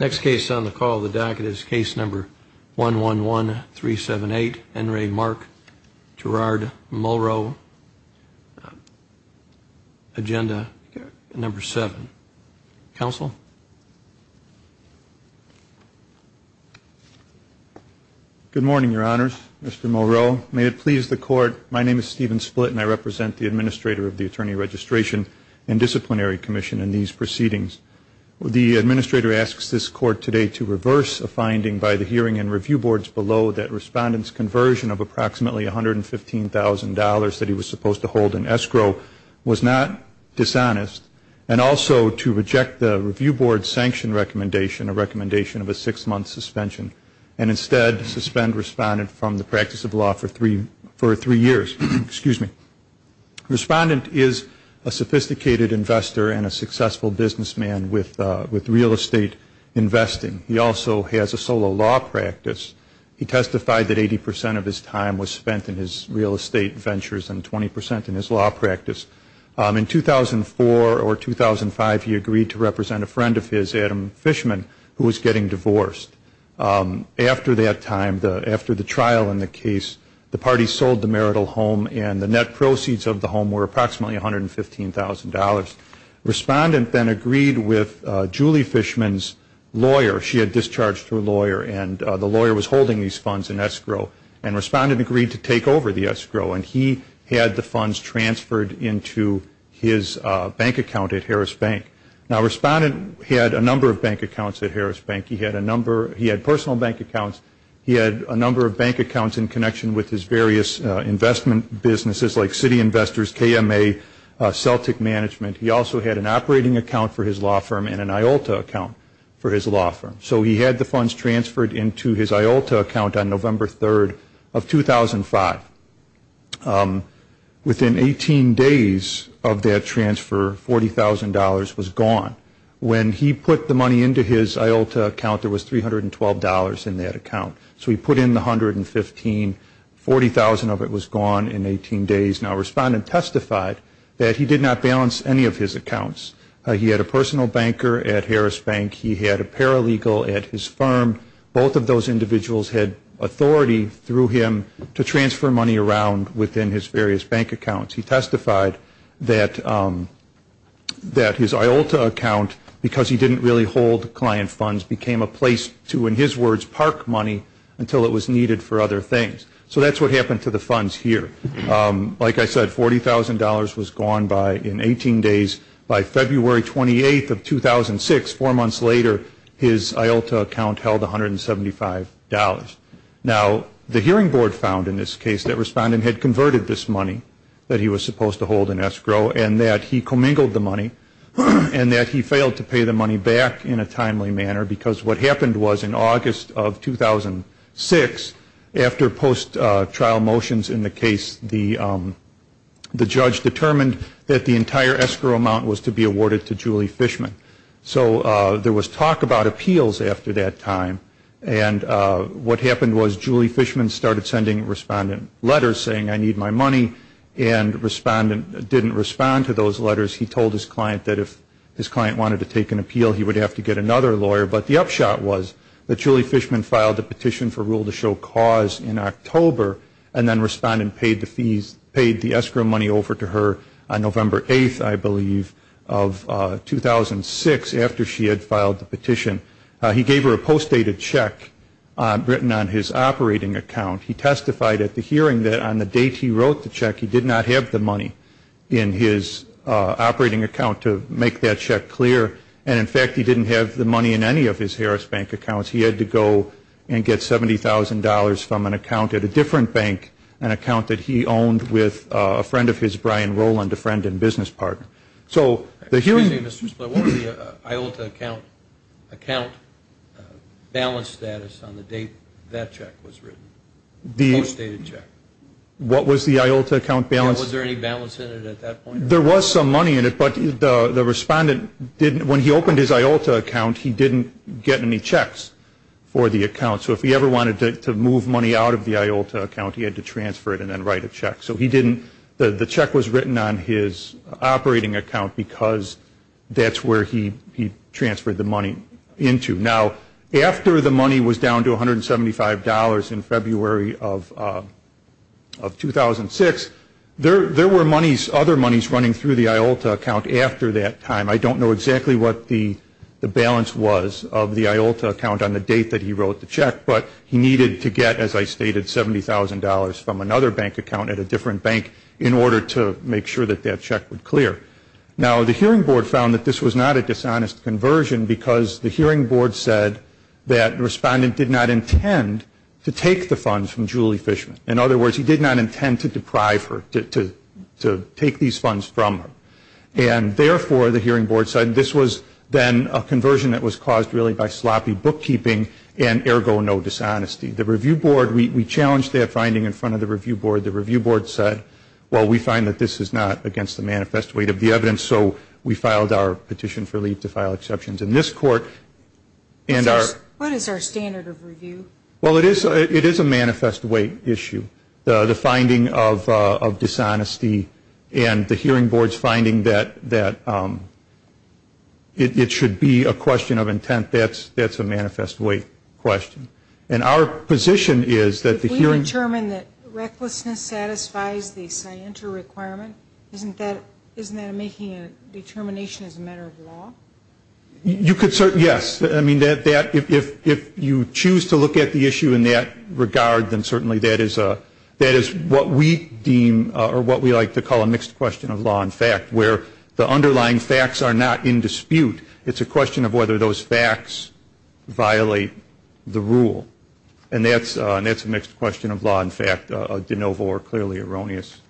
Next case on the call of the docket is case number 111378, Enray Mark, Gerard Mulroe, agenda number 7. Counsel? Good morning, your honors. Mr. Mulroe. May it please the court, my name is Stephen Split and I represent the administrator of the Attorney Registration and Disciplinary Commission in these proceedings. The administrator asks this court today to reverse a finding by the hearing and review boards below that respondent's conversion of approximately $115,000 that he was supposed to hold in escrow was not dishonest and also to reject the review board's sanction recommendation, a recommendation of a six-month suspension, and instead suspend respondent from the practice of law for three years. Excuse me. Respondent is a sophisticated investor and a successful businessman with real estate investing. He also has a solo law practice. He testified that 80% of his time was spent in his real estate ventures and 20% in his law practice. In 2004 or 2005, he agreed to represent a friend of his, Adam Fishman, who was getting divorced. After that time, after the trial in the case, the party sold the marital home and the net proceeds of the home were approximately $115,000. Respondent then agreed with Julie Fishman's lawyer. She had discharged her lawyer and the lawyer was holding these accounts at Harris Bank. He had personal bank accounts. He had a number of bank accounts in connection with his various investment businesses like City Investors, KMA, Celtic Management. He also had an operating account for his law firm and an IOLTA account for his law firm. So he had the funds transferred into his IOLTA account on November 3rd of 2005. Within 18 days of that transfer, $40,000 was gone. When he put the money into his IOLTA account, there was $312 in that account. So he put in the $115,000. $40,000 of it was gone in 18 days. Now, Respondent testified that he did not balance any of his accounts. He had a authority through him to transfer money around within his various bank accounts. He testified that his IOLTA account, because he didn't really hold client funds, became a place to, in his words, park money until it was needed for other things. So that's what happened to the funds here. Like I said, $40,000 was gone in 18 days. By February 28th of 2006, four months later, his IOLTA account held $175. Now, the hearing board found in this case that Respondent had converted this money that he was supposed to hold in escrow and that he commingled the money and that he failed to pay the money back in a timely manner because what happened was in August of 2006, after post-trial motions in the case, the judge determined that the entire escrow amount was to be awarded to Julie Fishman. So there was talk about appeals after that time. And what happened was Julie Fishman started sending Respondent letters saying, I need my money. And Respondent didn't respond to those letters. He told his client wanted to take an appeal. He would have to get another lawyer. But the upshot was that Julie Fishman filed a petition for rule to show cause in October and then Respondent paid the fees, paid the escrow money over to her on November 8th, I believe, of 2006 after she had filed the petition. He gave her a post-dated check written on his And in fact, he didn't have the money in any of his Harris Bank accounts. He had to go and get $70,000 from an account at a different bank, an account that he owned with a friend of his, Brian Roland, a friend and business partner. So the hearing... Excuse me, Mr. Spiller. What was the IOLTA account balance status on the date that check was written, the post-dated check? Was there any balance in it at that point? There was some money in it, but the Respondent, when he opened his IOLTA account, he didn't get any checks for the account. So if he ever wanted to move money out of the IOLTA account, he had to transfer it and then write a check. So the check was written on his operating account because that's where he transferred the money into. Now, after the money was down to $175 in February of 2006, there were other monies running through the IOLTA account after that time. I don't know exactly what the balance was of the IOLTA account on the date that he wrote the check, but he needed to get, as I stated, $70,000 from another bank account at a different bank in order to make sure that that check would clear. Now, the Hearing Board found that this was not a dishonest conversion because the Hearing Board said that Respondent did not intend to take the funds from Julie Fishman. In other words, he did not intend to deprive her, to take these funds from her. And therefore, the Hearing Board said this was then a conversion that was caused really by sloppy So we filed our petition for leave to file exceptions in this court. What is our standard of review? Well, it is a manifest weight issue. The finding of dishonesty and the Hearing Board's finding that it should be a question of intent, that's a manifest weight question. If we determine that recklessness satisfies the scienter requirement, isn't that making a determination as a matter of law? Yes. If you choose to look at the issue in that regard, then certainly that is what we like to call a mixed question of law and fact, where the underlying facts are not in dispute. It's a question of whether those facts violate the rule. And that's a mixed question of law and fact, a de novo or clearly erroneous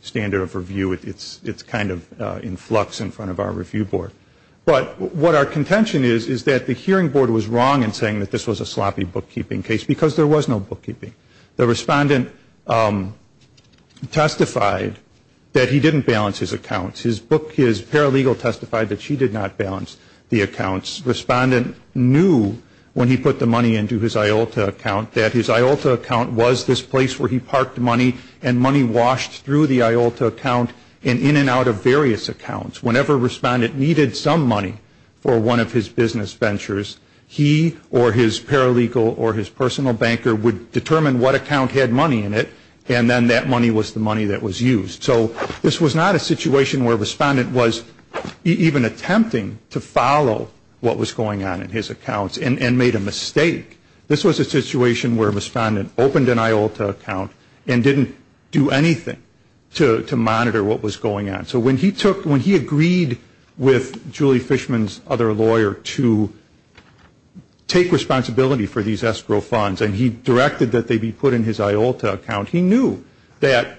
standard of review. It's kind of in flux in front of our review board. But what our contention is, is that the Hearing Board was wrong in saying that this was a sloppy bookkeeping case because there was no bookkeeping. The respondent testified that he didn't balance his accounts. His paralegal testified that she did not balance the accounts. Respondent knew when he put the money into his IOLTA account that his IOLTA account was this place where he parked money and money washed through the IOLTA account and in and out of various accounts. Whenever a respondent needed some money for one of his business ventures, he or his paralegal or his personal banker would determine what account had money in it and then that money was the money that was used. So this was not a situation where a respondent was even attempting to follow what was going on in his accounts and made a mistake. This was a situation where a respondent opened an IOLTA account and didn't do anything to monitor what was going on. So when he agreed with Julie Fishman's other lawyer to take responsibility for these escrow funds and he directed that they be put in his IOLTA account, he knew that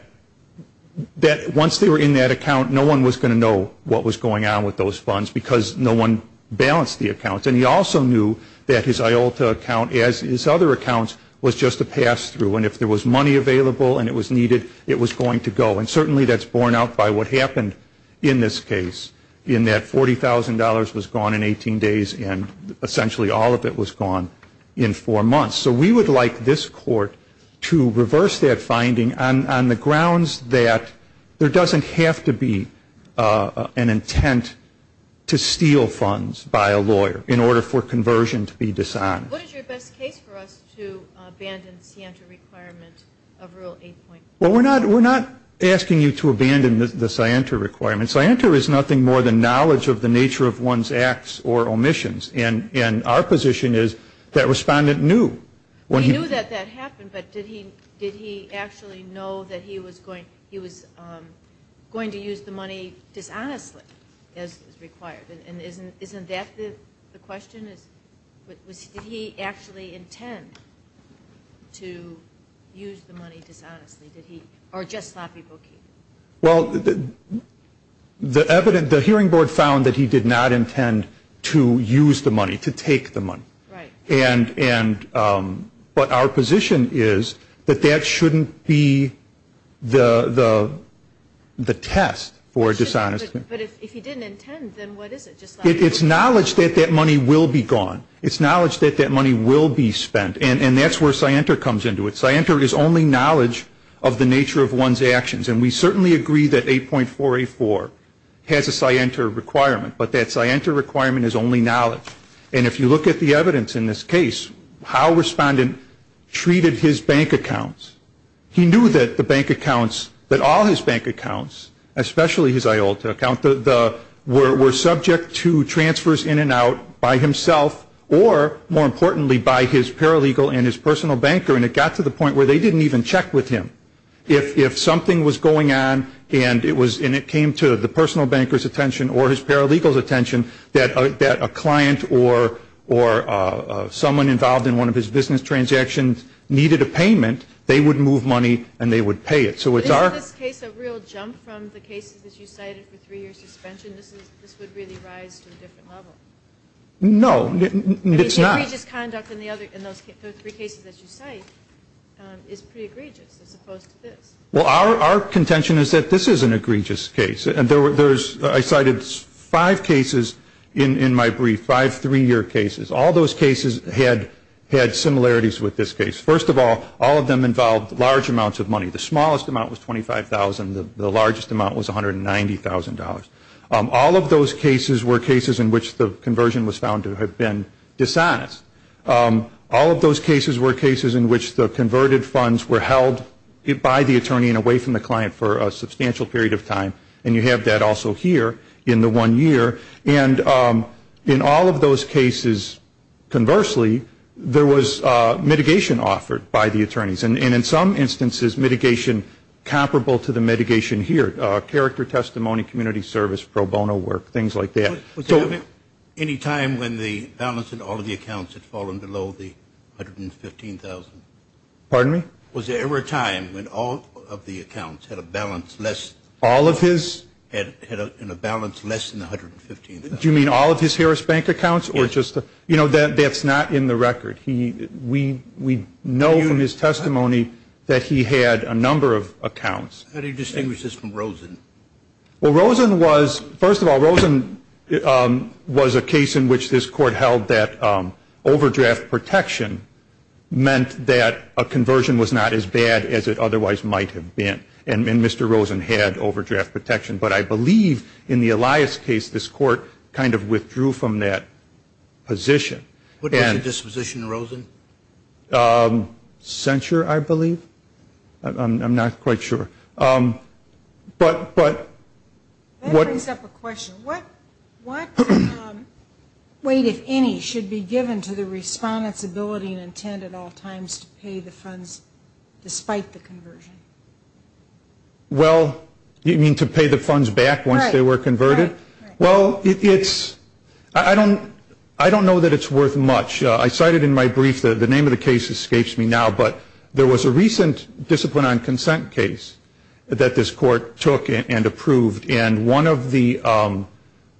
once they were in that account, no one was going to know what was going on with those funds because no one balanced the accounts. And he also knew that his IOLTA account, as his other accounts, was just a pass-through and if there was money available and it was needed, it was going to go. And certainly that's borne out by what happened in this case in that $40,000 was gone in 18 days and essentially all of it was gone in four months. So we would like this Court to reverse that finding on the grounds that there doesn't have to be an intent to steal funds by a lawyer in order for conversion to be dishonest. What is your best case for us to abandon the scienter requirement of Rule 8.4? Well, we're not asking you to abandon the scienter requirement. Scienter is nothing more than knowledge of the nature of one's acts or omissions. And our position is that respondent knew. He knew that that happened, but did he actually know that he was going to use the money dishonestly as required? And isn't that the question? Did he actually intend to use the money dishonestly? Or just sloppy bookkeeping? Well, the hearing board found that he did not intend to use the money, to take the money. Right. But our position is that that shouldn't be the test for dishonesty. But if he didn't intend, then what is it? It's knowledge that that money will be gone. It's knowledge that that money will be spent. And that's where scienter comes into it. Scienter is only knowledge of the nature of one's actions. And we certainly agree that 8.484 has a scienter requirement, but that scienter requirement is only knowledge. And if you look at the evidence in this case, how respondent treated his bank accounts, he knew that the bank accounts, that all his bank accounts, especially his IOLTA account, were subject to transfers in and out by himself or, more importantly, by his paralegal and his personal banker. And it got to the point where they didn't even check with him. If something was going on and it came to the personal banker's attention or his paralegal's attention that a client or someone involved in one of his business transactions needed a payment, they would move money and they would pay it. So it's our- Isn't this case a real jump from the cases that you cited for three-year suspension? This would really rise to a different level. No, it's not. The egregious conduct in those three cases that you cite is pretty egregious as opposed to this. Well, our contention is that this is an egregious case. I cited five cases in my brief, five three-year cases. All those cases had similarities with this case. First of all, all of them involved large amounts of money. The smallest amount was $25,000. The largest amount was $190,000. All of those cases were cases in which the conversion was found to have been dishonest. All of those cases were cases in which the converted funds were held by the attorney and away from the client for a substantial period of time, and you have that also here in the one year. And in all of those cases, conversely, there was mitigation offered by the attorneys. And in some instances, mitigation comparable to the mitigation here, character testimony, community service, pro bono work, things like that. Was there ever any time when the balance in all of the accounts had fallen below the $115,000? Pardon me? Was there ever a time when all of the accounts had a balance less- All of his? Had a balance less than the $115,000. Do you mean all of his Harris Bank accounts? Yes. You know, that's not in the record. We know from his testimony that he had a number of accounts. How do you distinguish this from Rosen? Well, Rosen was, first of all, Rosen was a case in which this Court held that overdraft protection meant that a conversion was not as bad as it otherwise might have been. And Mr. Rosen had overdraft protection. But I believe in the Elias case, this Court kind of withdrew from that position. What was your disposition, Rosen? Censure, I believe. I'm not quite sure. But- That brings up a question. What weight, if any, should be given to the Respondent's ability and intent at all times to pay the funds despite the conversion? Well, you mean to pay the funds back once they were converted? Right, right. Well, it's- I don't know that it's worth much. I cited in my brief that the name of the case escapes me now, but there was a recent discipline on consent case that this Court took and approved. And one of the-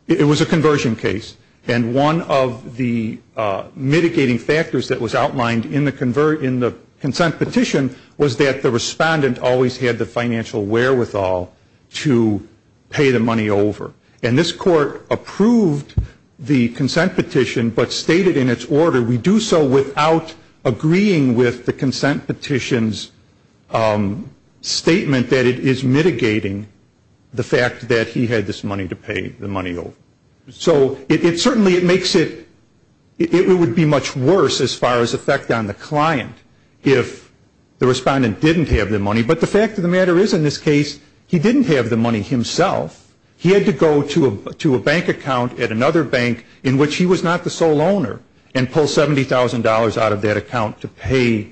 it was a conversion case. And one of the mitigating factors that was outlined in the consent petition was that the Respondent always had the financial wherewithal to pay the money over. And this Court approved the consent petition but stated in its order, we do so without agreeing with the consent petition's statement that it is mitigating the fact that he had this money to pay the money over. So it certainly makes it- it would be much worse as far as effect on the client if the Respondent didn't have the money. But the fact of the matter is, in this case, he didn't have the money himself. He had to go to a bank account at another bank in which he was not the sole owner and pull $70,000 out of that account to pay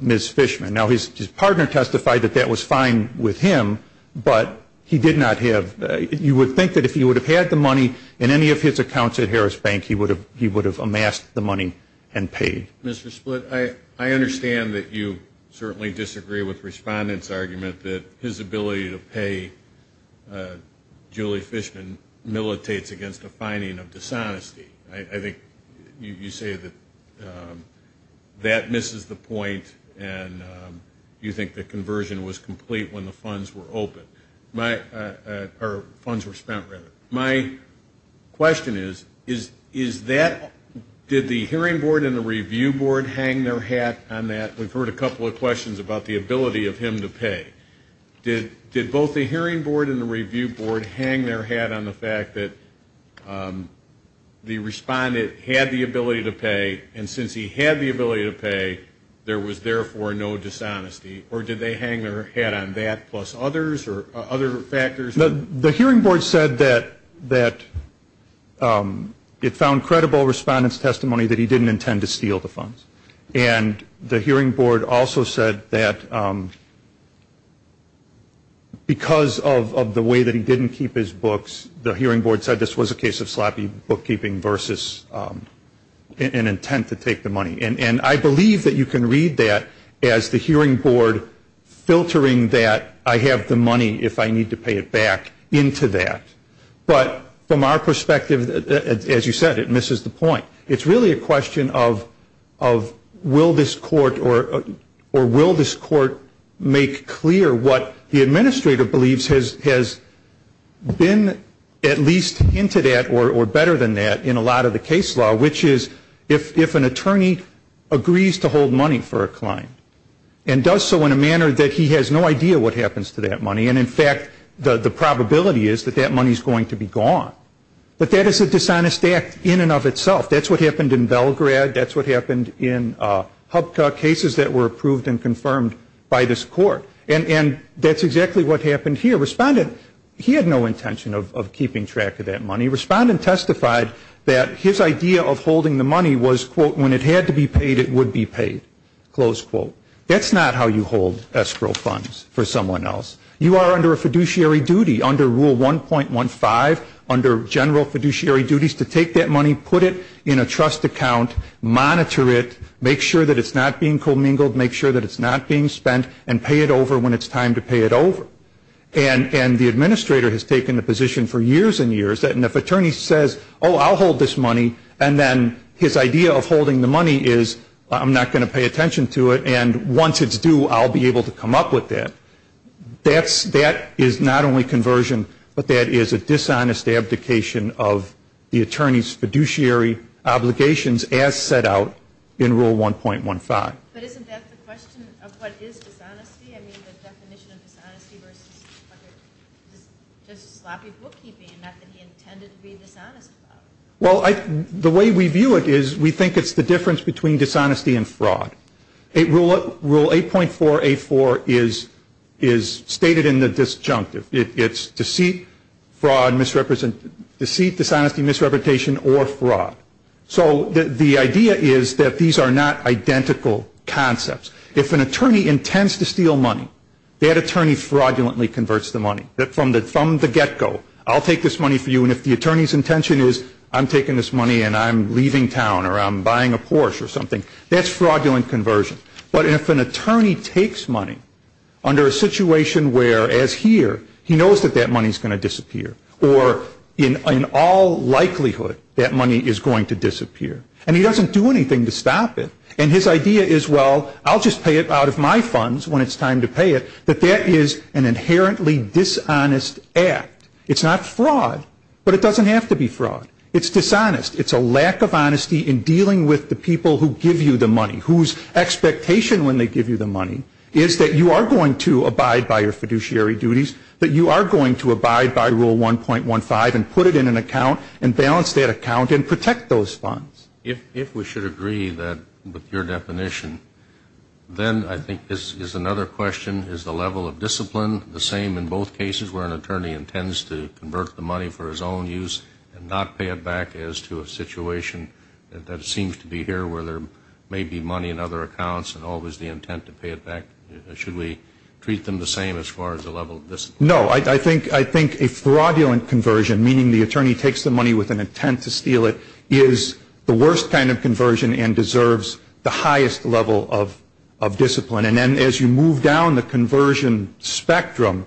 Ms. Fishman. Now, his partner testified that that was fine with him, but he did not have- you would think that if he would have had the money in any of his accounts at Harris Bank, he would have amassed the money and paid. Mr. Splitt, I understand that you certainly disagree with Respondent's argument that his ability to pay Julie Fishman militates against a finding of dishonesty. I think you say that that misses the point and you think the conversion was complete when the funds were open- or funds were spent, rather. My question is, is that- did the hearing board and the review board hang their hat on that? We've heard a couple of questions about the ability of him to pay. Did both the hearing board and the review board hang their hat on the fact that the Respondent had the ability to pay and since he had the ability to pay, there was therefore no dishonesty? Or did they hang their hat on that plus others or other factors? The hearing board said that it found credible Respondent's testimony that he didn't intend to steal the funds. And the hearing board also said that because of the way that he didn't keep his books, the hearing board said this was a case of sloppy bookkeeping versus an intent to take the money. And I believe that you can read that as the hearing board filtering that I have the money if I need to pay it back into that. But from our perspective, as you said, it misses the point. It's really a question of will this court make clear what the administrator believes has been at least hinted at or better than that in a lot of the case law, which is if an attorney agrees to hold money for a client and does so in a manner that he has no idea what happens to that money and in fact the probability is that that money is going to be gone. But that is a dishonest act in and of itself. That's what happened in Belgrade. That's what happened in Hupka, cases that were approved and confirmed by this court. And that's exactly what happened here. Respondent, he had no intention of keeping track of that money. Respondent testified that his idea of holding the money was, quote, when it had to be paid, it would be paid, close quote. That's not how you hold escrow funds for someone else. You are under a fiduciary duty under Rule 1.15, under general fiduciary duties to take that money, put it in a trust account, monitor it, make sure that it's not being commingled, make sure that it's not being spent, and pay it over when it's time to pay it over. And the administrator has taken the position for years and years that if an attorney says, oh, I'll hold this money, and then his idea of holding the money is I'm not going to pay attention to it, and once it's due, I'll be able to come up with that. That is not only conversion, but that is a dishonest abdication of the attorney's fiduciary obligations as set out in Rule 1.15. But isn't that the question of what is dishonesty? I mean, the definition of dishonesty versus just sloppy bookkeeping, not that he intended to be dishonest about it. Well, the way we view it is we think it's the difference between dishonesty and fraud. Rule 8.484 is stated in the disjunctive. It's deceit, fraud, misrepresentation, deceit, dishonesty, misrepresentation, or fraud. So the idea is that these are not identical concepts. If an attorney intends to steal money, that attorney fraudulently converts the money from the get-go. I'll take this money for you, and if the attorney's intention is I'm taking this money and I'm leaving town or I'm buying a Porsche or something, that's fraudulent conversion. But if an attorney takes money under a situation where, as here, he knows that that money is going to disappear or in all likelihood that money is going to disappear, and he doesn't do anything to stop it, and his idea is, well, I'll just pay it out of my funds when it's time to pay it, that that is an inherently dishonest act. It's not fraud, but it doesn't have to be fraud. It's dishonest. It's a lack of honesty in dealing with the people who give you the money, whose expectation when they give you the money is that you are going to abide by your fiduciary duties, that you are going to abide by Rule 1.15 and put it in an account and balance that account and protect those funds. If we should agree that with your definition, then I think this is another question, is the level of discipline the same in both cases where an attorney intends to convert the money for his own use and not pay it back as to a situation that seems to be here where there may be money in other accounts and always the intent to pay it back? Should we treat them the same as far as the level of discipline? No. I think a fraudulent conversion, meaning the attorney takes the money with an intent to steal it, is the worst kind of conversion and deserves the highest level of discipline. And then as you move down the conversion spectrum,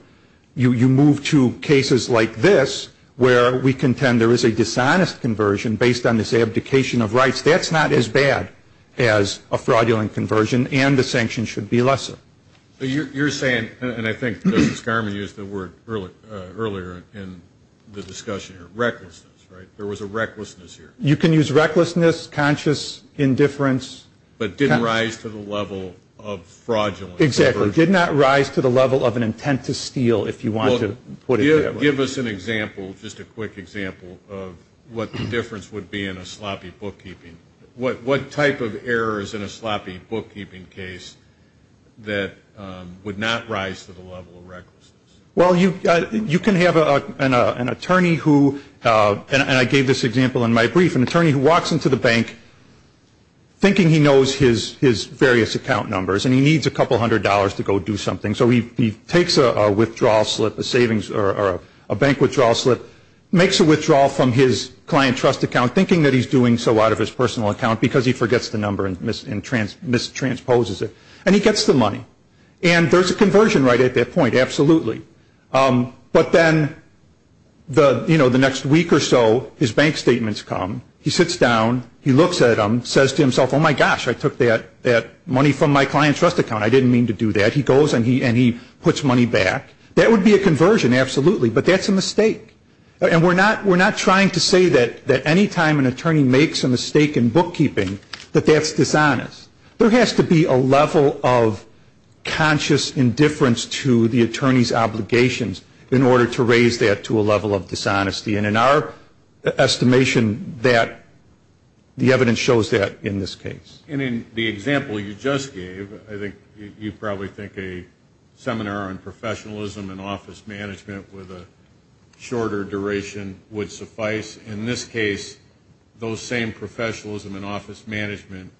you move to cases like this where we contend there is a dishonest conversion based on this abdication of rights. That's not as bad as a fraudulent conversion, and the sanctions should be lesser. You're saying, and I think Justice Garmon used the word earlier in the discussion here, recklessness, right? There was a recklessness here. You can use recklessness, conscious indifference. But it didn't rise to the level of fraudulent conversion. Exactly. It did not rise to the level of an intent to steal, if you want to put it that way. Give us an example, just a quick example, of what the difference would be in a sloppy bookkeeping. What type of error is in a sloppy bookkeeping case that would not rise to the level of recklessness? Well, you can have an attorney who, and I gave this example in my brief, an attorney who walks into the bank thinking he knows his various account numbers and he needs a couple hundred dollars to go do something. So he takes a withdrawal slip, a bank withdrawal slip, makes a withdrawal from his client trust account thinking that he's doing so out of his personal account because he forgets the number and mistransposes it, and he gets the money. And there's a conversion right at that point, absolutely. But then, you know, the next week or so, his bank statement's come. He sits down. He looks at them, says to himself, oh, my gosh, I took that money from my client's trust account. I didn't mean to do that. He goes and he puts money back. That would be a conversion, absolutely, but that's a mistake. And we're not trying to say that any time an attorney makes a mistake in bookkeeping that that's dishonest. There has to be a level of conscious indifference to the attorney's obligations in order to raise that to a level of dishonesty. And in our estimation, the evidence shows that in this case. And in the example you just gave, I think you probably think a seminar on professionalism and office management with a shorter duration would suffice. In this case, those same professionalism and office management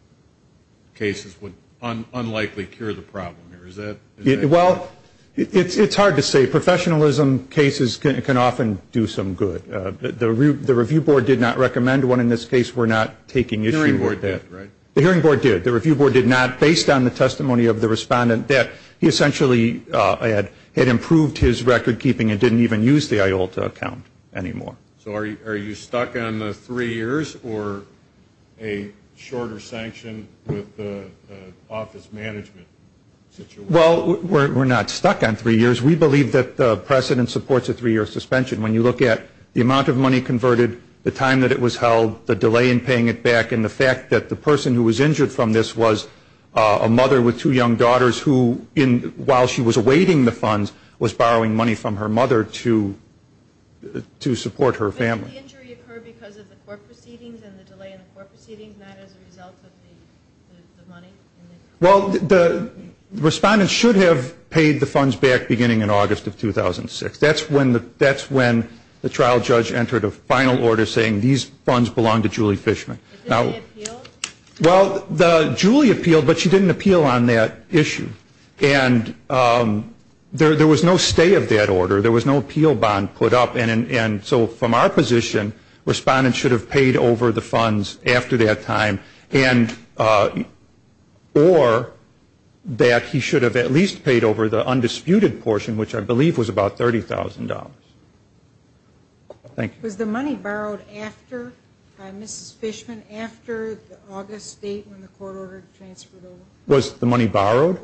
cases would unlikely cure the problem here. Is that correct? Well, it's hard to say. Professionalism cases can often do some good. The review board did not recommend one. In this case, we're not taking issue with that. The hearing board did, right? The hearing board did. The review board did not. Based on the testimony of the respondent that he essentially had improved his recordkeeping and didn't even use the IOLTA account anymore. So are you stuck on the three years or a shorter sanction with the office management situation? Well, we're not stuck on three years. We believe that the precedent supports a three-year suspension. When you look at the amount of money converted, the time that it was held, the delay in paying it back, and the fact that the person who was injured from this was a mother with two young daughters who, while she was awaiting the funds, was borrowing money from her mother to support her family. Didn't the injury occur because of the court proceedings and the delay in the court proceedings, not as a result of the money? Well, the respondent should have paid the funds back beginning in August of 2006. That's when the trial judge entered a final order saying these funds belong to Julie Fishman. Did they appeal? Well, Julie appealed, but she didn't appeal on that issue. And there was no stay of that order. There was no appeal bond put up. And so from our position, respondents should have paid over the funds after that time or that he should have at least paid over the undisputed portion, which I believe was about $30,000. Thank you. Was the money borrowed after Mrs. Fishman, after the August date when the court ordered transfer? Was the money borrowed?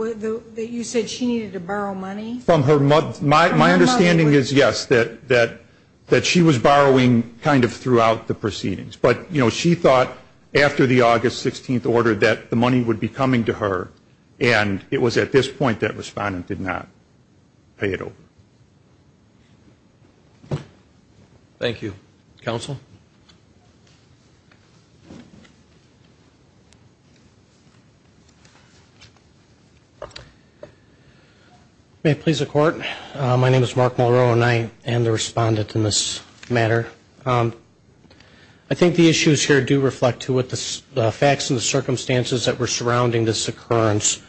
You said she needed to borrow money? My understanding is, yes, that she was borrowing kind of throughout the proceedings. But, you know, she thought after the August 16th order that the money would be coming to her, and it was at this point that respondent did not pay it over. Thank you. Counsel? May it please the Court? My name is Mark Mulrow, and I am the respondent in this matter. I think the issues here do reflect to what the facts and the circumstances that were surrounding this occurrence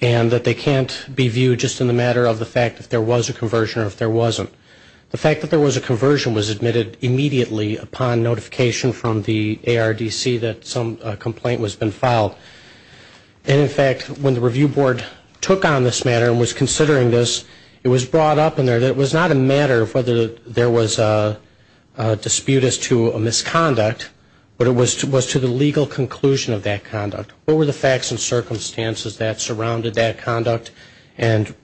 and that they can't be viewed just in the matter of the fact that there was a conversion or if there wasn't. The fact that there was a conversion was admitted immediately upon notification from the ARDC that some complaint has been filed. And, in fact, when the Review Board took on this matter and was considering this, it was brought up in there that it was not a matter of whether there was a dispute as to a misconduct, but it was to the legal conclusion of that conduct. What were the facts and circumstances that surrounded that conduct, and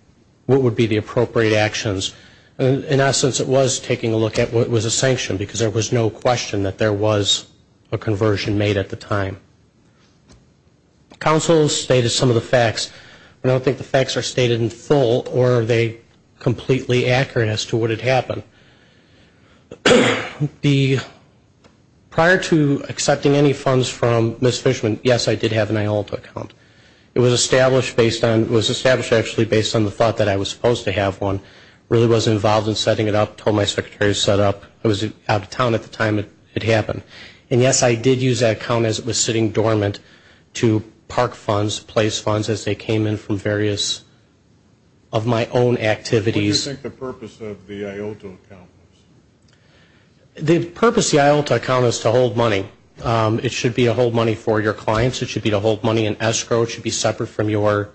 what would be the appropriate actions? In essence, it was taking a look at what was a sanction, because there was no question that there was a conversion made at the time. Counsel stated some of the facts. I don't think the facts are stated in full, or are they completely accurate as to what had happened. Prior to accepting any funds from Ms. Fishman, yes, I did have an IOLTA account. It was established actually based on the thought that I was supposed to have one. I really wasn't involved in setting it up. I told my secretary to set it up. I was out of town at the time it happened. And, yes, I did use that account as it was sitting dormant to park funds, place funds as they came in from various of my own activities. What do you think the purpose of the IOLTA account was? The purpose of the IOLTA account is to hold money. It should be to hold money for your clients. It should be to hold money in escrow. It should be separate from your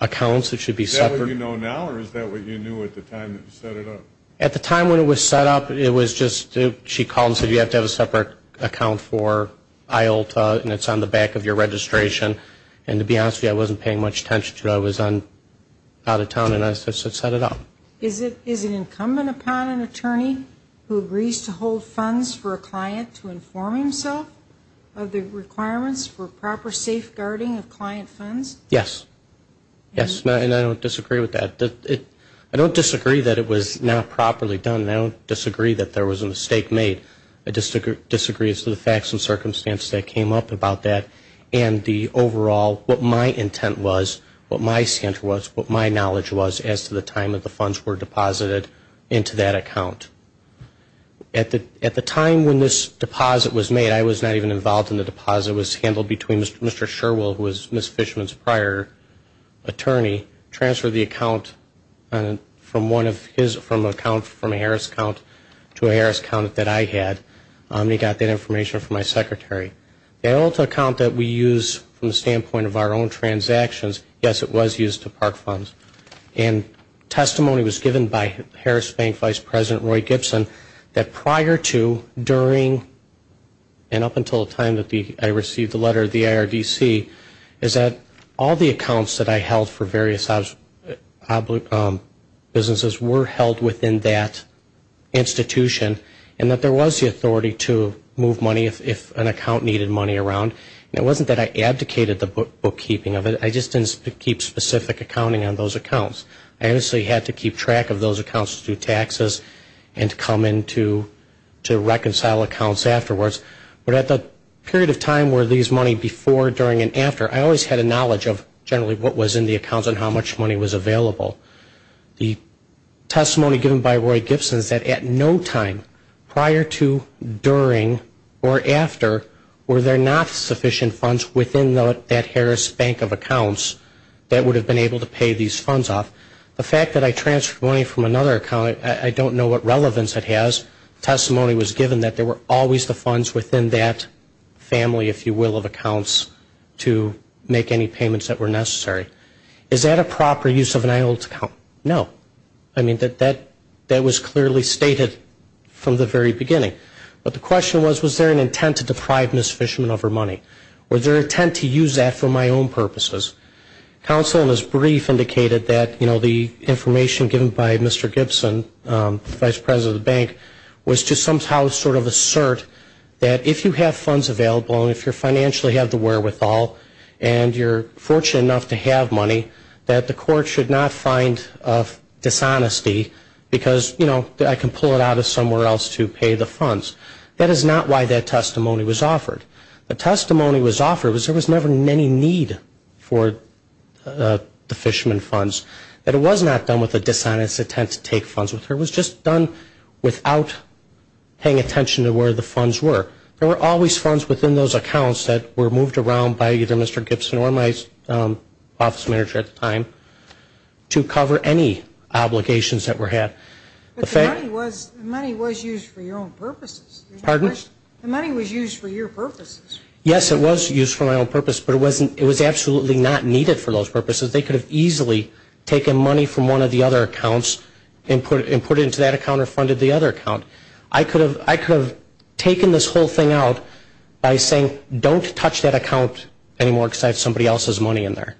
accounts. Is that what you know now, or is that what you knew at the time that you set it up? At the time when it was set up, it was just she called and said, you have to have a separate account for IOLTA, and it's on the back of your registration. And to be honest with you, I wasn't paying much attention to it. I was out of town, and I set it up. Is it incumbent upon an attorney who agrees to hold funds for a client to inform himself of the requirements for proper safeguarding of client funds? Yes. Yes, and I don't disagree with that. I don't disagree that it was not properly done, and I don't disagree that there was a mistake made. I disagree as to the facts and circumstance that came up about that. And the overall, what my intent was, what my center was, what my knowledge was, as to the time that the funds were deposited into that account. At the time when this deposit was made, I was not even involved in the deposit. It was handled between Mr. Sherwell, who was Ms. Fishman's prior attorney, transferred the account from a Harris account to a Harris account that I had, and he got that information from my secretary. The other account that we use from the standpoint of our own transactions, yes, it was used to park funds. And testimony was given by Harris Bank Vice President Roy Gibson that prior to, during, and up until the time that I received the letter of the IRDC, is that all the accounts that I held for various businesses were held within that institution, and that there was the authority to move money if an account needed money around. And it wasn't that I abdicated the bookkeeping of it, I just didn't keep specific accounting on those accounts. I obviously had to keep track of those accounts to do taxes and to come in to reconcile accounts afterwards. But at the period of time where these money before, during, and after, I always had a knowledge of generally what was in the accounts and how much money was available. The testimony given by Roy Gibson is that at no time prior to, during, or after, were there not sufficient funds within that Harris Bank of accounts that would have been able to pay these funds off. The fact that I transferred money from another account, I don't know what relevance it has. Testimony was given that there were always the funds within that family, if you will, of accounts to make any payments that were necessary. Is that a proper use of an IHLTS account? No. I mean, that was clearly stated from the very beginning. But the question was, was there an intent to deprive Ms. Fishman of her money? Was there an intent to use that for my own purposes? Counsel in his brief indicated that, you know, the information given by Mr. Gibson, the vice president of the bank, was to somehow sort of assert that if you have funds available and if you financially have the wherewithal and you're fortunate enough to have money, that the court should not find dishonesty because, you know, I can pull it out of somewhere else to pay the funds. That is not why that testimony was offered. The testimony was offered was there was never any need for the Fishman funds, that it was not done with a dishonest intent to take funds with her. It was just done without paying attention to where the funds were. There were always funds within those accounts that were moved around by either Mr. Gibson or my office manager at the time to cover any obligations that were had. But the money was used for your own purposes. Pardon? The money was used for your purposes. Yes, it was used for my own purpose, but it was absolutely not needed for those purposes. They could have easily taken money from one of the other accounts and put it into that account or funded the other account. I could have taken this whole thing out by saying, don't touch that account anymore because I have somebody else's money in there,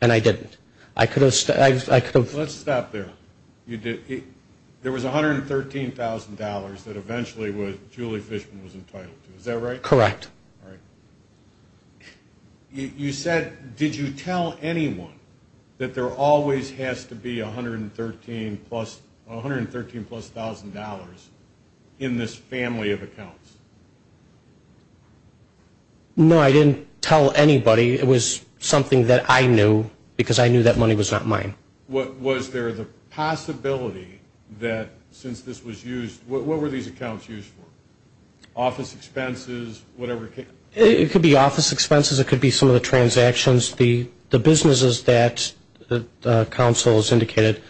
and I didn't. I could have. Let's stop there. There was $113,000 that eventually Julie Fishman was entitled to, is that right? Correct. All right. You said, did you tell anyone that there always has to be $113,000 in this family of accounts? No, I didn't tell anybody. It was something that I knew because I knew that money was not mine. Was there the possibility that since this was used, what were these accounts used for? Office expenses, whatever? It could be office expenses. It could be some of the transactions. The businesses that the council has indicated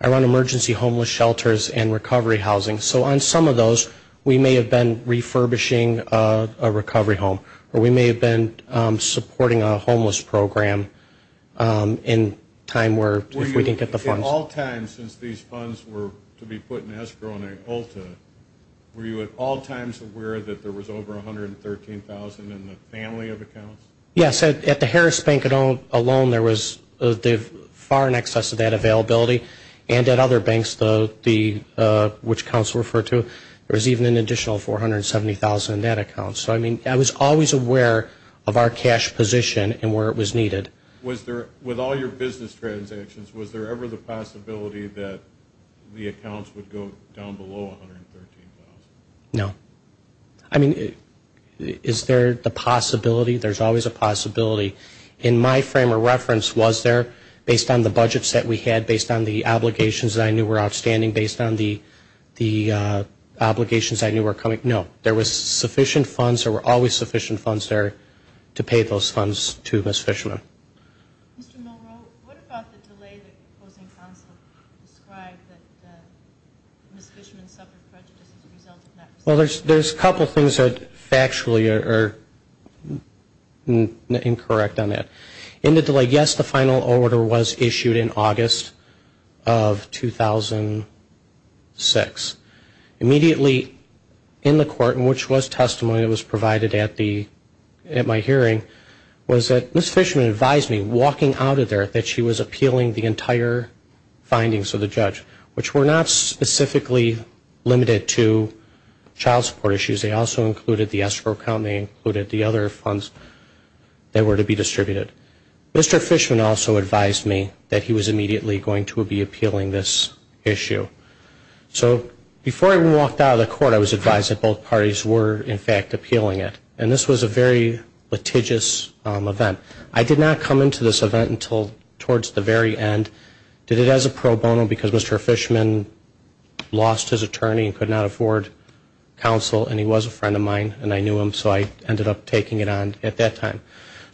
are on emergency homeless shelters and recovery housing. So on some of those, we may have been refurbishing a recovery home, or we may have been supporting a homeless program in time if we didn't get the funds. In all time, since these funds were to be put in escrow and in ULTA, were you at all times aware that there was over $113,000 in the family of accounts? Yes. At the Harris Bank alone, there was far in excess of that availability. And at other banks, which council referred to, there was even an additional $470,000 in that account. So, I mean, I was always aware of our cash position and where it was needed. With all your business transactions, was there ever the possibility that the accounts would go down below $113,000? No. I mean, is there the possibility? There's always a possibility. In my frame of reference, was there, based on the budget set we had, based on the obligations that I knew were outstanding, based on the obligations I knew were coming? No. There was sufficient funds. There were always sufficient funds there to pay those funds to Ms. Fishman. Mr. Milrow, what about the delay that opposing counsel described that Ms. Fishman suffered prejudice as a result of not receiving the funds? Well, there's a couple things that factually are incorrect on that. In the delay, yes, the final order was issued in August of 2006. Immediately in the court, which was testimony that was provided at my hearing, was that Ms. Fishman advised me, walking out of there, that she was appealing the entire findings of the judge, which were not specifically limited to child support issues. They also included the escrow account. They included the other funds that were to be distributed. Mr. Fishman also advised me that he was immediately going to be appealing this issue. So before I walked out of the court, I was advised that both parties were, in fact, appealing it. And this was a very litigious event. I did not come into this event until towards the very end. Did it as a pro bono because Mr. Fishman lost his attorney and could not afford counsel, and he was a friend of mine, and I knew him, so I ended up taking it on at that time.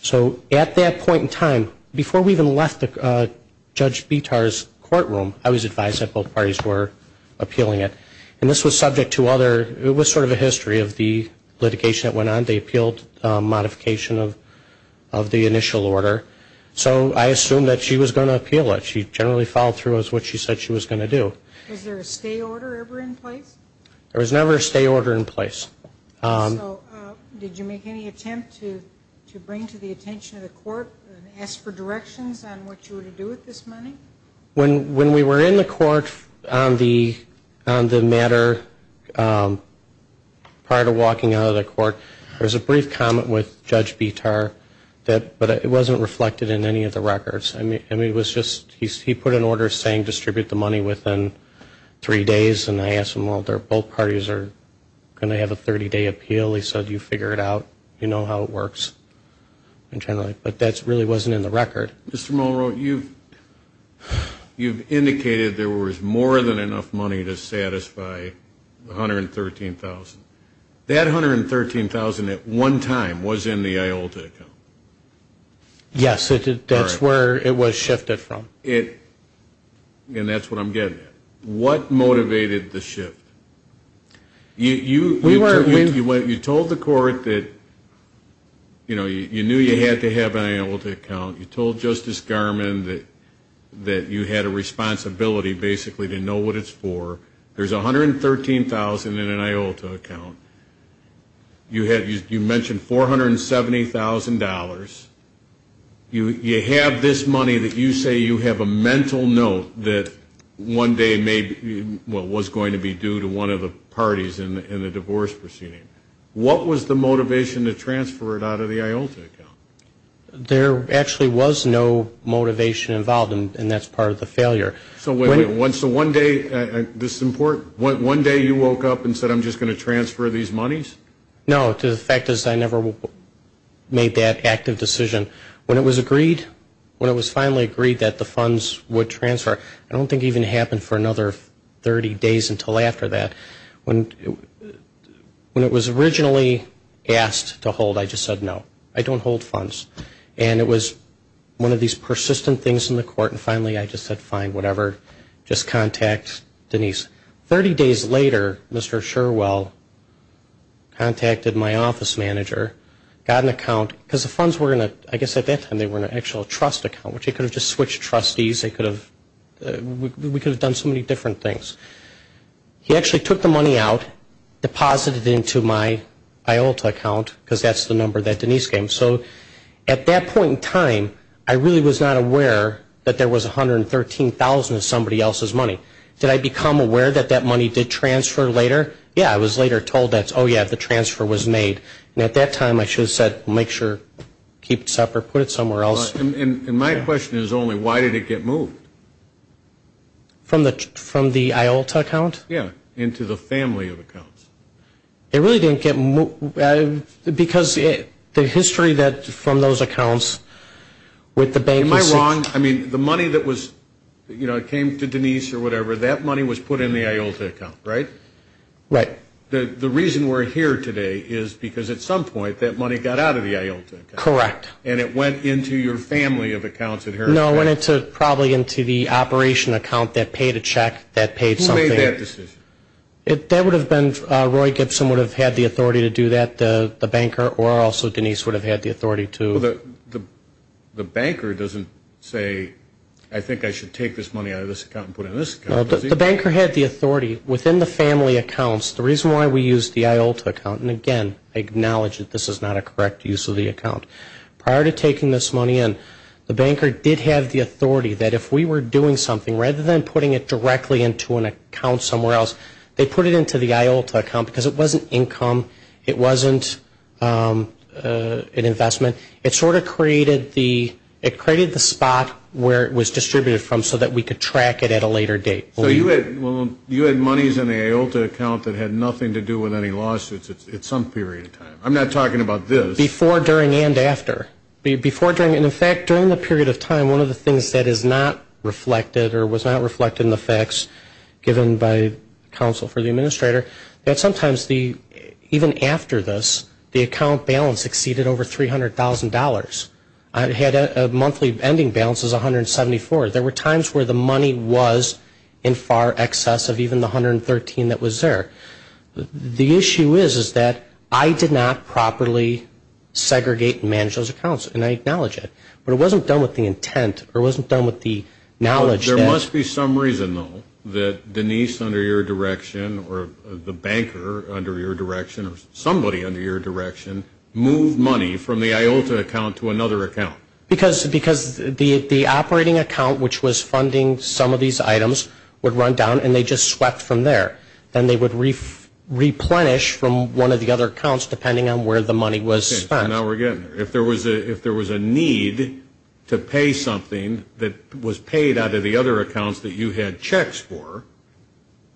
So at that point in time, before we even left Judge Bitar's courtroom, I was advised that both parties were appealing it. And this was subject to other, it was sort of a history of the litigation that went on. They appealed modification of the initial order. So I assumed that she was going to appeal it. She generally followed through with what she said she was going to do. Was there a stay order ever in place? There was never a stay order in place. So did you make any attempt to bring to the attention of the court and ask for directions on what you were to do with this money? When we were in the court on the matter prior to walking out of the court, there was a brief comment with Judge Bitar, but it wasn't reflected in any of the records. I mean, it was just he put an order saying distribute the money within three days, and I asked him, well, both parties are going to have a 30-day appeal. He said, you figure it out. You know how it works internally. But that really wasn't in the record. Mr. Mulroney, you've indicated there was more than enough money to satisfy the $113,000. That $113,000 at one time was in the IOLTA account. Yes, that's where it was shifted from. And that's what I'm getting at. What motivated the shift? You told the court that you knew you had to have an IOLTA account. You told Justice Garmon that you had a responsibility basically to know what it's for. There's $113,000 in an IOLTA account. You mentioned $470,000. You have this money that you say you have a mental note that one day may be, well, was going to be due to one of the parties in the divorce proceeding. What was the motivation to transfer it out of the IOLTA account? There actually was no motivation involved, and that's part of the failure. So one day you woke up and said, I'm just going to transfer these monies? No, the fact is I never made that active decision. When it was agreed, when it was finally agreed that the funds would transfer, I don't think it even happened for another 30 days until after that. When it was originally asked to hold, I just said no. I don't hold funds. And it was one of these persistent things in the court, and finally I just said fine, whatever. Just contact Denise. Thirty days later, Mr. Sherwell contacted my office manager, got an account, because the funds were in a, I guess at that time they were in an actual trust account, which he could have just switched trustees. We could have done so many different things. He actually took the money out, deposited it into my IOLTA account, because that's the number that Denise gave him. So at that point in time, I really was not aware that there was $113,000 of somebody else's money. Did I become aware that that money did transfer later? Yeah, I was later told that, oh, yeah, the transfer was made. And at that time I should have said, make sure, keep it separate, put it somewhere else. And my question is only, why did it get moved? From the IOLTA account? Yeah, into the family of accounts. It really didn't get moved, because the history from those accounts with the bank. Am I wrong? I mean, the money that came to Denise or whatever, that money was put in the IOLTA account, right? Right. The reason we're here today is because at some point that money got out of the IOLTA account. Correct. And it went into your family of accounts. No, it went probably into the operation account that paid a check, that paid something. Who made that decision? That would have been Roy Gibson would have had the authority to do that, the banker, or also Denise would have had the authority to. Well, the banker doesn't say, I think I should take this money out of this account and put it in this account. No, the banker had the authority within the family accounts. The reason why we used the IOLTA account, and, again, I acknowledge that this is not a correct use of the account. Prior to taking this money in, the banker did have the authority that if we were doing something, rather than putting it directly into an account somewhere else, they put it into the IOLTA account because it wasn't income, it wasn't an investment. It sort of created the spot where it was distributed from so that we could track it at a later date. So you had monies in the IOLTA account that had nothing to do with any lawsuits at some period of time. I'm not talking about this. Before, during, and after. In fact, during the period of time, one of the things that is not reflected or was not reflected in the facts given by counsel for the administrator, that sometimes even after this, the account balance exceeded over $300,000. I had a monthly ending balance of $174,000. There were times where the money was in far excess of even the $113,000 that was there. The issue is that I did not properly segregate and manage those accounts. And I acknowledge it. But it wasn't done with the intent or wasn't done with the knowledge. There must be some reason, though, that Denise under your direction or the banker under your direction or somebody under your direction moved money from the IOLTA account to another account. Because the operating account, which was funding some of these items, would run down and they just swept from there. Then they would replenish from one of the other accounts, depending on where the money was spent. Now we're getting there. If there was a need to pay something that was paid out of the other accounts that you had checks for,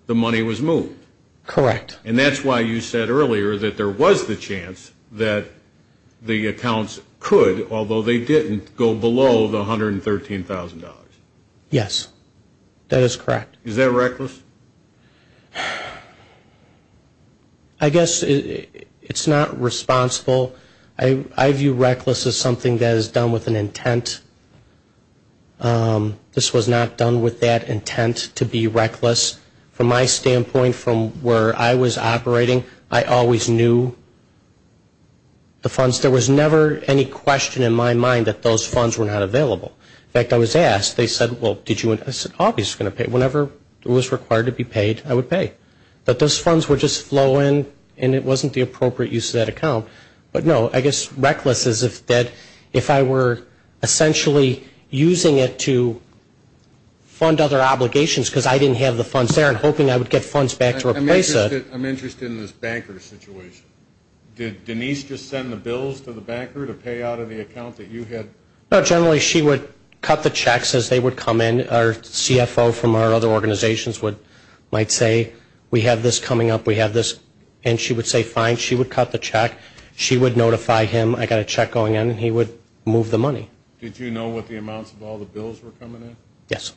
the money was moved. Correct. And that's why you said earlier that there was the chance that the accounts could, although they didn't, go below the $113,000. Yes, that is correct. Is that reckless? I guess it's not responsible. I view reckless as something that is done with an intent. This was not done with that intent, to be reckless. From my standpoint, from where I was operating, I always knew the funds. There was never any question in my mind that those funds were not available. In fact, I was asked, they said, well, did you want, I said, I was obviously going to pay. Whenever it was required to be paid, I would pay. But those funds would just flow in, and it wasn't the appropriate use of that account. But, no, I guess reckless is that if I were essentially using it to fund other obligations because I didn't have the funds there and hoping I would get funds back to replace it. I'm interested in this banker situation. Did Denise just send the bills to the banker to pay out of the account that you had? No, generally she would cut the checks as they would come in. Our CFO from our other organizations might say, we have this coming up, we have this, and she would say, fine. She would cut the check. She would notify him, I've got a check going in, and he would move the money. Did you know what the amounts of all the bills were coming in? Yes.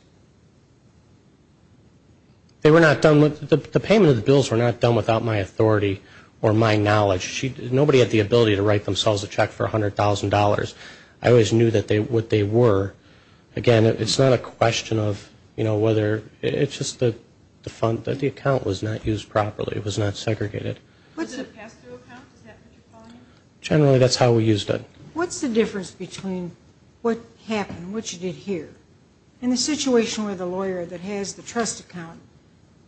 They were not done, the payment of the bills were not done without my authority or my knowledge. Nobody had the ability to write themselves a check for $100,000. I always knew what they were. Again, it's not a question of whether, it's just that the account was not used properly, it was not segregated. Was it a pass-through account, is that what you're calling it? Generally, that's how we used it. What's the difference between what happened, what you did here, and the situation where the lawyer that has the trust account,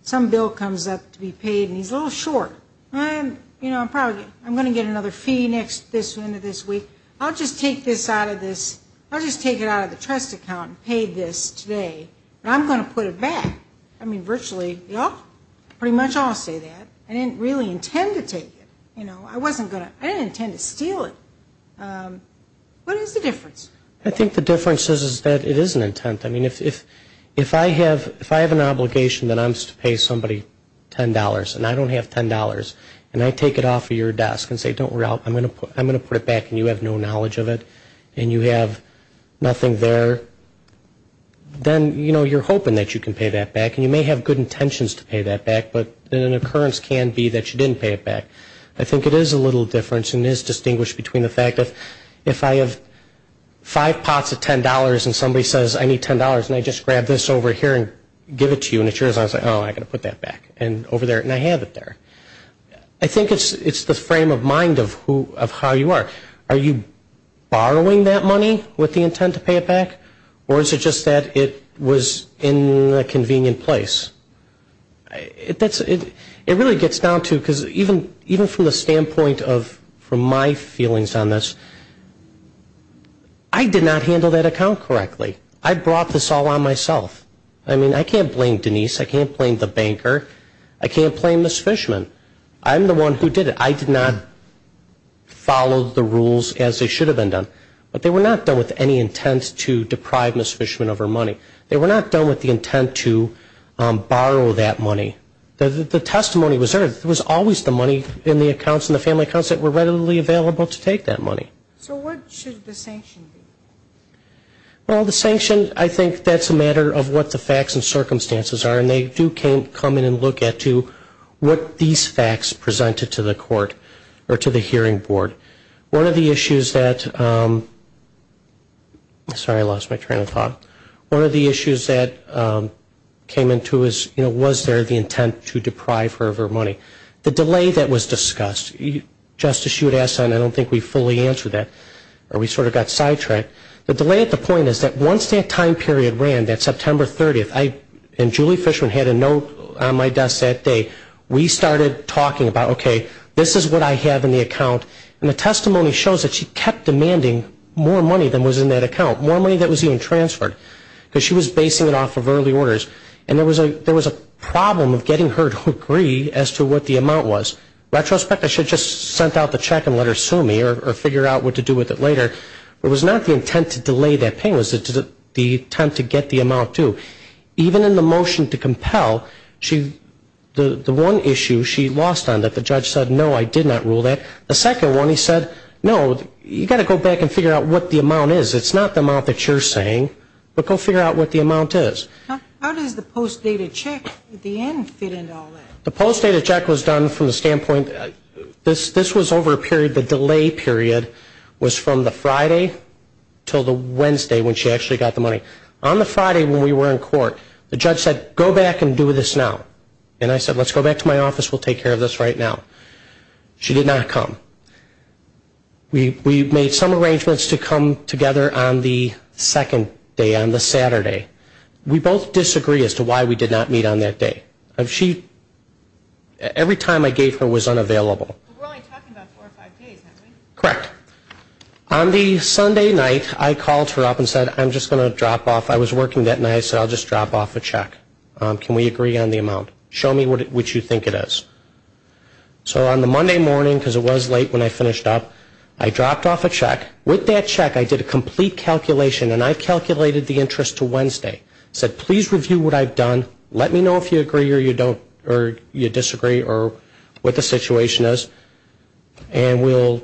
some bill comes up to be paid and he's a little short. You know, I'm going to get another fee this week. I'll just take this out of this. I'll just take it out of the trust account and pay this today, and I'm going to put it back. I mean, virtually, pretty much all say that. I didn't really intend to take it. I didn't intend to steal it. What is the difference? I think the difference is that it is an intent. I mean, if I have an obligation that I'm supposed to pay somebody $10, and I don't have $10, and I take it off of your desk and say, don't worry, I'm going to put it back, and you have no knowledge of it, and you have nothing there, then, you know, you're hoping that you can pay that back. And you may have good intentions to pay that back, but an occurrence can be that you didn't pay it back. I think it is a little difference, and it is distinguished between the fact that if I have five pots of $10 and somebody says, I need $10, and I just grab this over here and give it to you, and it's yours, I say, oh, I've got to put that back, and over there, and I have it there. I think it's the frame of mind of how you are. Are you borrowing that money with the intent to pay it back, or is it just that it was in a convenient place? It really gets down to, because even from the standpoint of my feelings on this, I did not handle that account correctly. I brought this all on myself. I mean, I can't blame Denise. I can't blame the banker. I can't blame Ms. Fishman. I'm the one who did it. I did not follow the rules as they should have been done. But they were not done with any intent to deprive Ms. Fishman of her money. They were not done with the intent to borrow that money. The testimony was heard. It was always the money in the accounts, in the family accounts, that were readily available to take that money. So what should the sanction be? Well, the sanction, I think that's a matter of what the facts and circumstances are, and they do come in and look at what these facts presented to the court or to the hearing board. One of the issues that came into it was, was there the intent to deprive her of her money? The delay that was discussed, Justice, you had asked that, and I don't think we fully answered that, or we sort of got sidetracked. The delay at the point is that once that time period ran, that September 30th, and Julie Fishman had a note on my desk that day, we started talking about, okay, this is what I have in the account, and the testimony shows that she kept demanding more money than was in that account, more money than was even transferred, because she was basing it off of early orders. And there was a problem of getting her to agree as to what the amount was. Retrospect, I should have just sent out the check and let her sue me or figure out what to do with it later. It was not the intent to delay that payment. It was the intent to get the amount, too. Even in the motion to compel, the one issue she lost on that the judge said, no, I did not rule that. The second one he said, no, you've got to go back and figure out what the amount is. It's not the amount that you're saying, but go figure out what the amount is. How does the post-data check at the end fit into all that? The post-data check was done from the standpoint, this was over a period, the delay period was from the Friday until the Wednesday when she actually got the money. On the Friday when we were in court, the judge said, go back and do this now. And I said, let's go back to my office, we'll take care of this right now. She did not come. We made some arrangements to come together on the second day, on the Saturday. We both disagree as to why we did not meet on that day. Every time I gave her was unavailable. We're only talking about four or five days, aren't we? Correct. On the Sunday night, I called her up and said, I'm just going to drop off. I was working that night, so I'll just drop off a check. Can we agree on the amount? Show me what you think it is. So on the Monday morning, because it was late when I finished up, I dropped off a check. With that check, I did a complete calculation, and I calculated the interest to Wednesday. I said, please review what I've done, let me know if you agree or you disagree or what the situation is, and we'll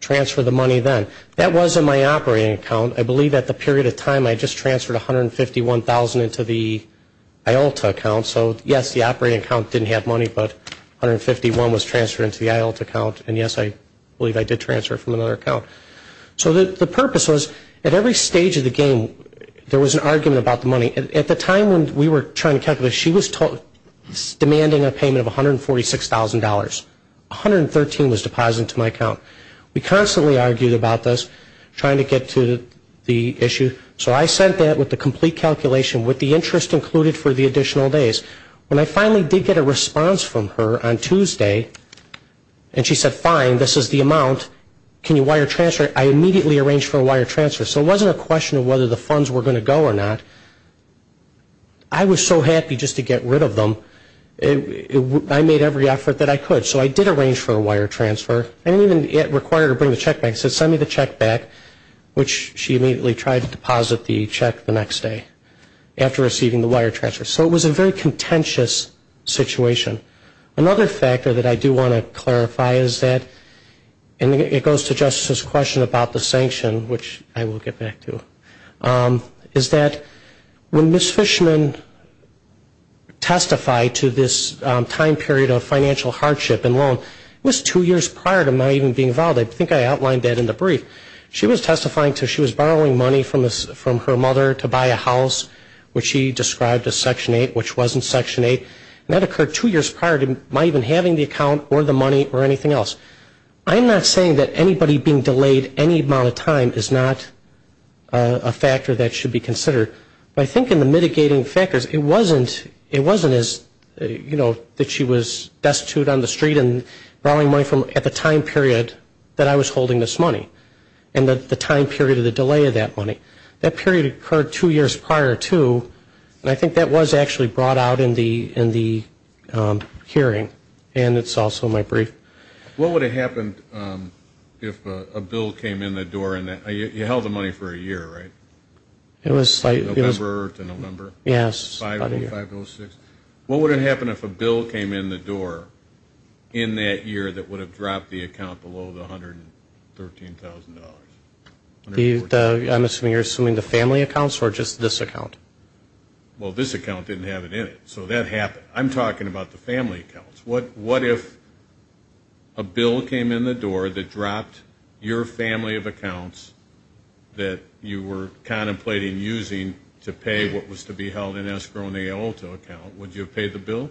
transfer the money then. That was in my operating account. I believe at the period of time I just transferred $151,000 into the IOLTA account. So, yes, the operating account didn't have money, but $151,000 was transferred into the IOLTA account, and, yes, I believe I did transfer it from another account. So the purpose was, at every stage of the game, there was an argument about the money. At the time when we were trying to calculate, she was demanding a payment of $146,000. $113,000 was deposited into my account. We constantly argued about this, trying to get to the issue. So I sent that with the complete calculation with the interest included for the additional days. When I finally did get a response from her on Tuesday, and she said, fine, this is the amount, can you wire transfer it, I immediately arranged for a wire transfer. So it wasn't a question of whether the funds were going to go or not. I was so happy just to get rid of them, I made every effort that I could. So I did arrange for a wire transfer. I didn't even require her to bring the check back. She immediately tried to deposit the check the next day after receiving the wire transfer. So it was a very contentious situation. Another factor that I do want to clarify is that, and it goes to Justice's question about the sanction, which I will get back to, is that when Ms. Fishman testified to this time period of financial hardship and loan, it was two years prior to my even being involved. I think I outlined that in the brief. She was testifying to she was borrowing money from her mother to buy a house, which she described as Section 8, which wasn't Section 8. And that occurred two years prior to my even having the account or the money or anything else. I'm not saying that anybody being delayed any amount of time is not a factor that should be considered. But I think in the mitigating factors, it wasn't as, you know, that she was destitute on the street and borrowing money at the time period that I was holding this money and the time period of the delay of that money. That period occurred two years prior to, and I think that was actually brought out in the hearing. And it's also in my brief. What would have happened if a bill came in the door? You held the money for a year, right? November to November? Yes. What would have happened if a bill came in the door in that year that would have dropped the account below the $113,000? I'm assuming you're assuming the family accounts or just this account? Well, this account didn't have it in it. So that happened. I'm talking about the family accounts. What if a bill came in the door that dropped your family of accounts that you were contemplating using to pay what was to be held in escrow and the AOLTO account? Would you have paid the bill?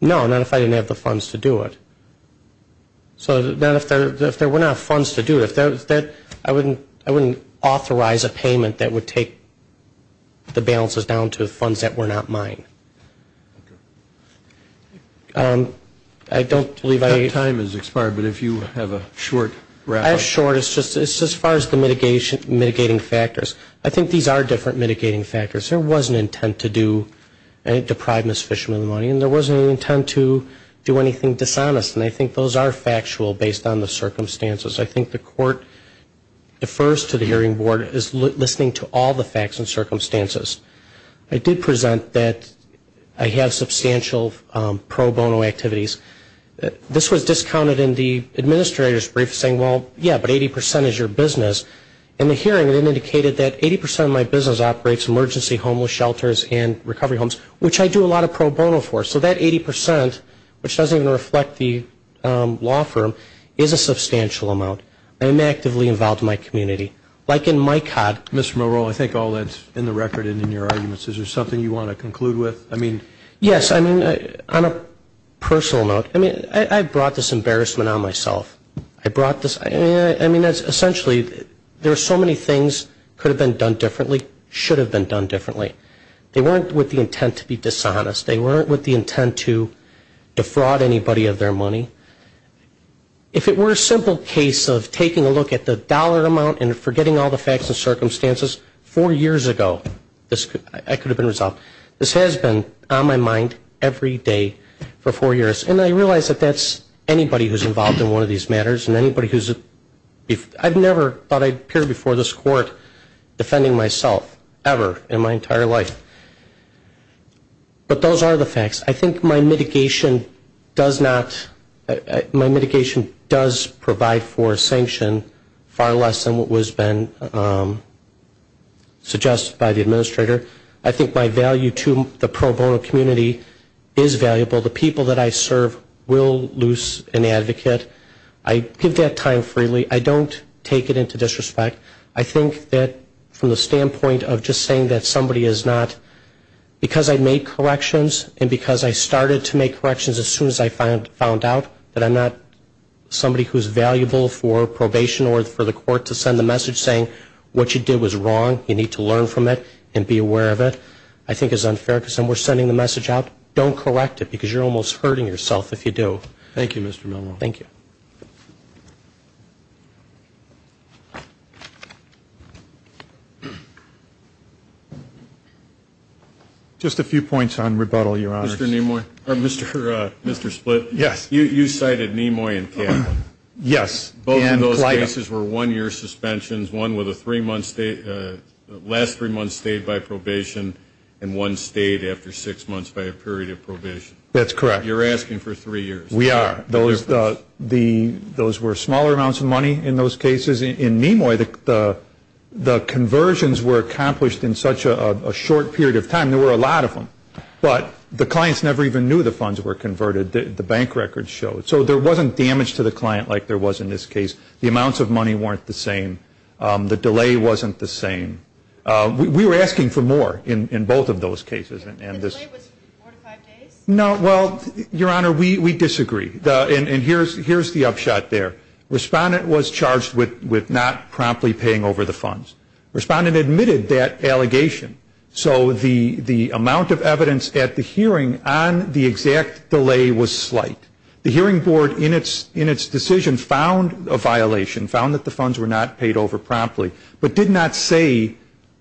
No, not if I didn't have the funds to do it. So if there were not funds to do it, I wouldn't authorize a payment that would take the balances down to funds that were not mine. I don't believe I need to. Your time has expired, but if you have a short wrap-up. It's not short. It's just as far as the mitigating factors. I think these are different mitigating factors. There was an intent to deprive Ms. Fishman of the money, and there was an intent to do anything dishonest, and I think those are factual based on the circumstances. I think the court defers to the hearing board as listening to all the facts and circumstances. I did present that I have substantial pro bono activities. This was discounted in the administrator's brief, saying, well, yeah, but 80% is your business. In the hearing, it indicated that 80% of my business operates emergency homeless shelters and recovery homes, which I do a lot of pro bono for. So that 80%, which doesn't even reflect the law firm, is a substantial amount. I am actively involved in my community. Like in my C.O.D. Mr. Morrell, I think all that's in the record and in your arguments. Is there something you want to conclude with? Yes. I mean, on a personal note, I brought this embarrassment on myself. I brought this ‑‑ I mean, essentially, there are so many things that could have been done differently, should have been done differently. They weren't with the intent to be dishonest. They weren't with the intent to defraud anybody of their money. If it were a simple case of taking a look at the dollar amount and forgetting all the facts and circumstances, four years ago, that could have been resolved. This has been on my mind every day for four years. And I realize that that's anybody who's involved in one of these matters and anybody who's ‑‑ I never thought I'd appear before this court defending myself, ever, in my entire life. But those are the facts. I think my mitigation does not ‑‑ my mitigation does provide for sanction far less than what was been suggested by the administrator. I think my value to the pro bono community is valuable. The people that I serve will lose an advocate. I give that time freely. I don't take it into disrespect. I think that from the standpoint of just saying that somebody is not ‑‑ because I made corrections and because I started to make corrections as soon as I found out that I'm not somebody who's valuable for probation or for the court to send the message saying what you did was wrong, you need to learn from it and be aware of it, I think is unfair because then we're sending the message out, don't correct it because you're almost hurting yourself if you do. Thank you, Mr. Milne. Thank you. Just a few points on rebuttal, Your Honors. Mr. Nimoy. Mr. Split. Yes. You cited Nimoy and Campbell. Yes. Both of those cases were one‑year suspensions, one with a three‑month ‑‑ last three months stayed by probation and one stayed after six months by a period of probation. That's correct. You're asking for three years. We are. Those were smaller amounts of money in those cases. In Nimoy, the conversions were accomplished in such a short period of time. There were a lot of them. But the clients never even knew the funds were converted. The bank records showed. So there wasn't damage to the client like there was in this case. The amounts of money weren't the same. The delay wasn't the same. We were asking for more in both of those cases. The delay was four to five days? No, well, Your Honor, we disagree. And here's the upshot there. Respondent was charged with not promptly paying over the funds. Respondent admitted that allegation. So the amount of evidence at the hearing on the exact delay was slight. The hearing board in its decision found a violation, found that the funds were not paid over promptly, but did not say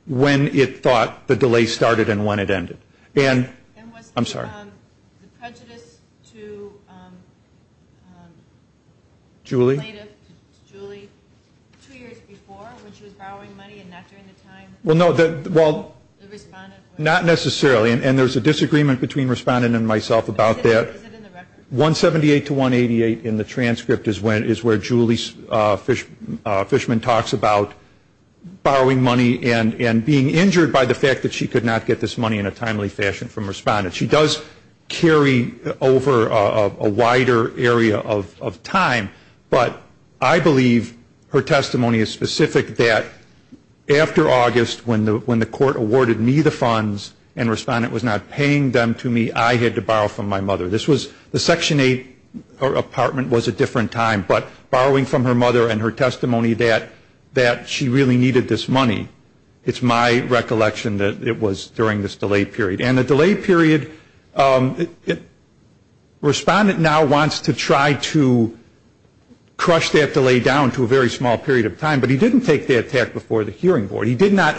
when it thought the delay started and when it ended. And was the prejudice to Julie two years before when she was borrowing money and not during the time? Well, no, not necessarily. And there's a disagreement between Respondent and myself about that. Is it in the record? 178 to 188 in the transcript is where Julie Fishman talks about borrowing money and being injured by the fact that she could not get this money in a timely fashion from Respondent. She does carry over a wider area of time, but I believe her testimony is specific that after August when the court awarded me the funds and Respondent was not paying them to me, I had to borrow from my mother. The Section 8 apartment was a different time, but borrowing from her mother and her testimony that she really needed this money, it's my recollection that it was during this delay period. And the delay period, Respondent now wants to try to crush that delay down to a very small period of time, but he didn't take the attack before the hearing board. He did not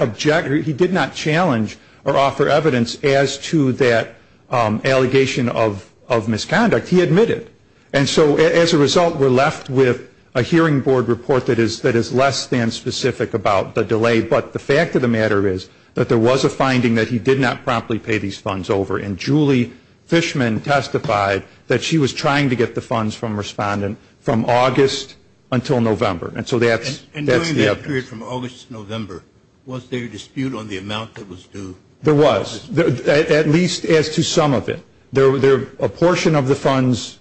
challenge or offer evidence as to that allegation of misconduct. He admitted. And so as a result, we're left with a hearing board report that is less than specific about the delay, but the fact of the matter is that there was a finding that he did not promptly pay these funds over, and Julie Fishman testified that she was trying to get the funds from Respondent from August until November. And so that's the evidence. And during that period from August to November, was there a dispute on the amount that was due? There was, at least as to some of it. A portion of the funds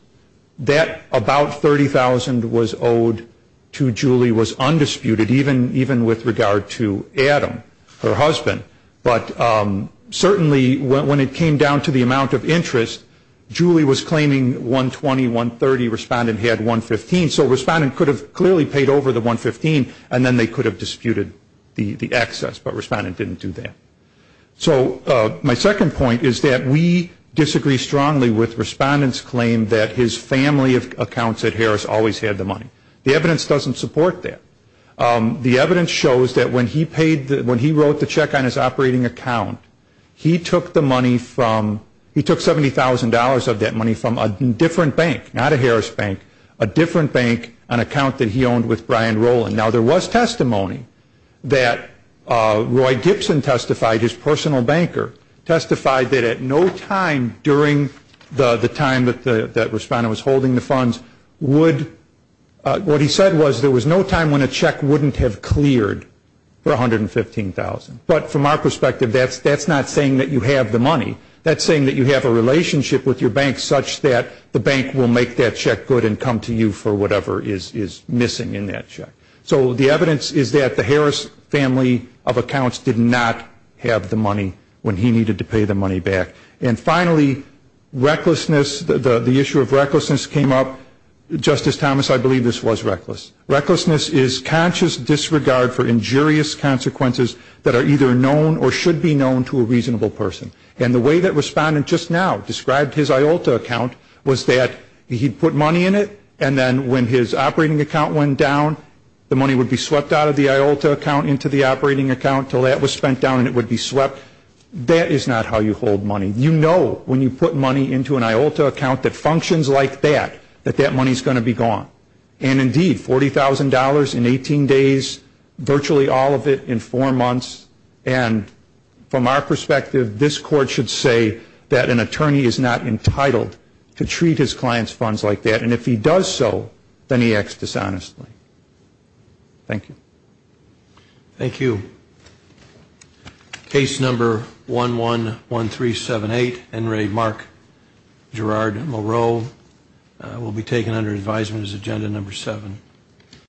that about $30,000 was owed to Julie was undisputed, even with regard to Adam, her husband. But certainly when it came down to the amount of interest, Julie was claiming $120,000, $130,000. So Respondent could have clearly paid over the $115,000, and then they could have disputed the excess, but Respondent didn't do that. So my second point is that we disagree strongly with Respondent's claim that his family accounts at Harris always had the money. The evidence doesn't support that. The evidence shows that when he wrote the check on his operating account, he took $70,000 of that money from a different bank, not a Harris bank, a different bank, an account that he owned with Brian Rowland. Now there was testimony that Roy Gibson testified, his personal banker, testified that at no time during the time that Respondent was holding the funds would, what he said was there was no time when a check wouldn't have cleared for $115,000. But from our perspective, that's not saying that you have the money. That's saying that you have a relationship with your bank such that the bank will make that check good and come to you for whatever is missing in that check. So the evidence is that the Harris family of accounts did not have the money when he needed to pay the money back. And finally, recklessness, the issue of recklessness came up. Justice Thomas, I believe this was reckless. Recklessness is conscious disregard for injurious consequences that are either known or should be known to a reasonable person. And the way that Respondent just now described his IOLTA account was that he put money in it and then when his operating account went down, the money would be swept out of the IOLTA account into the operating account until that was spent down and it would be swept. That is not how you hold money. You know when you put money into an IOLTA account that functions like that, that that money is going to be gone. And indeed, $40,000 in 18 days, virtually all of it in four months, and from our perspective, this Court should say that an attorney is not entitled to treat his client's funds like that. And if he does so, then he acts dishonestly. Thank you. Thank you. Case number 111378, Enrique Mark Gerard Moreau, will be taken under advisement as Agenda Number 7.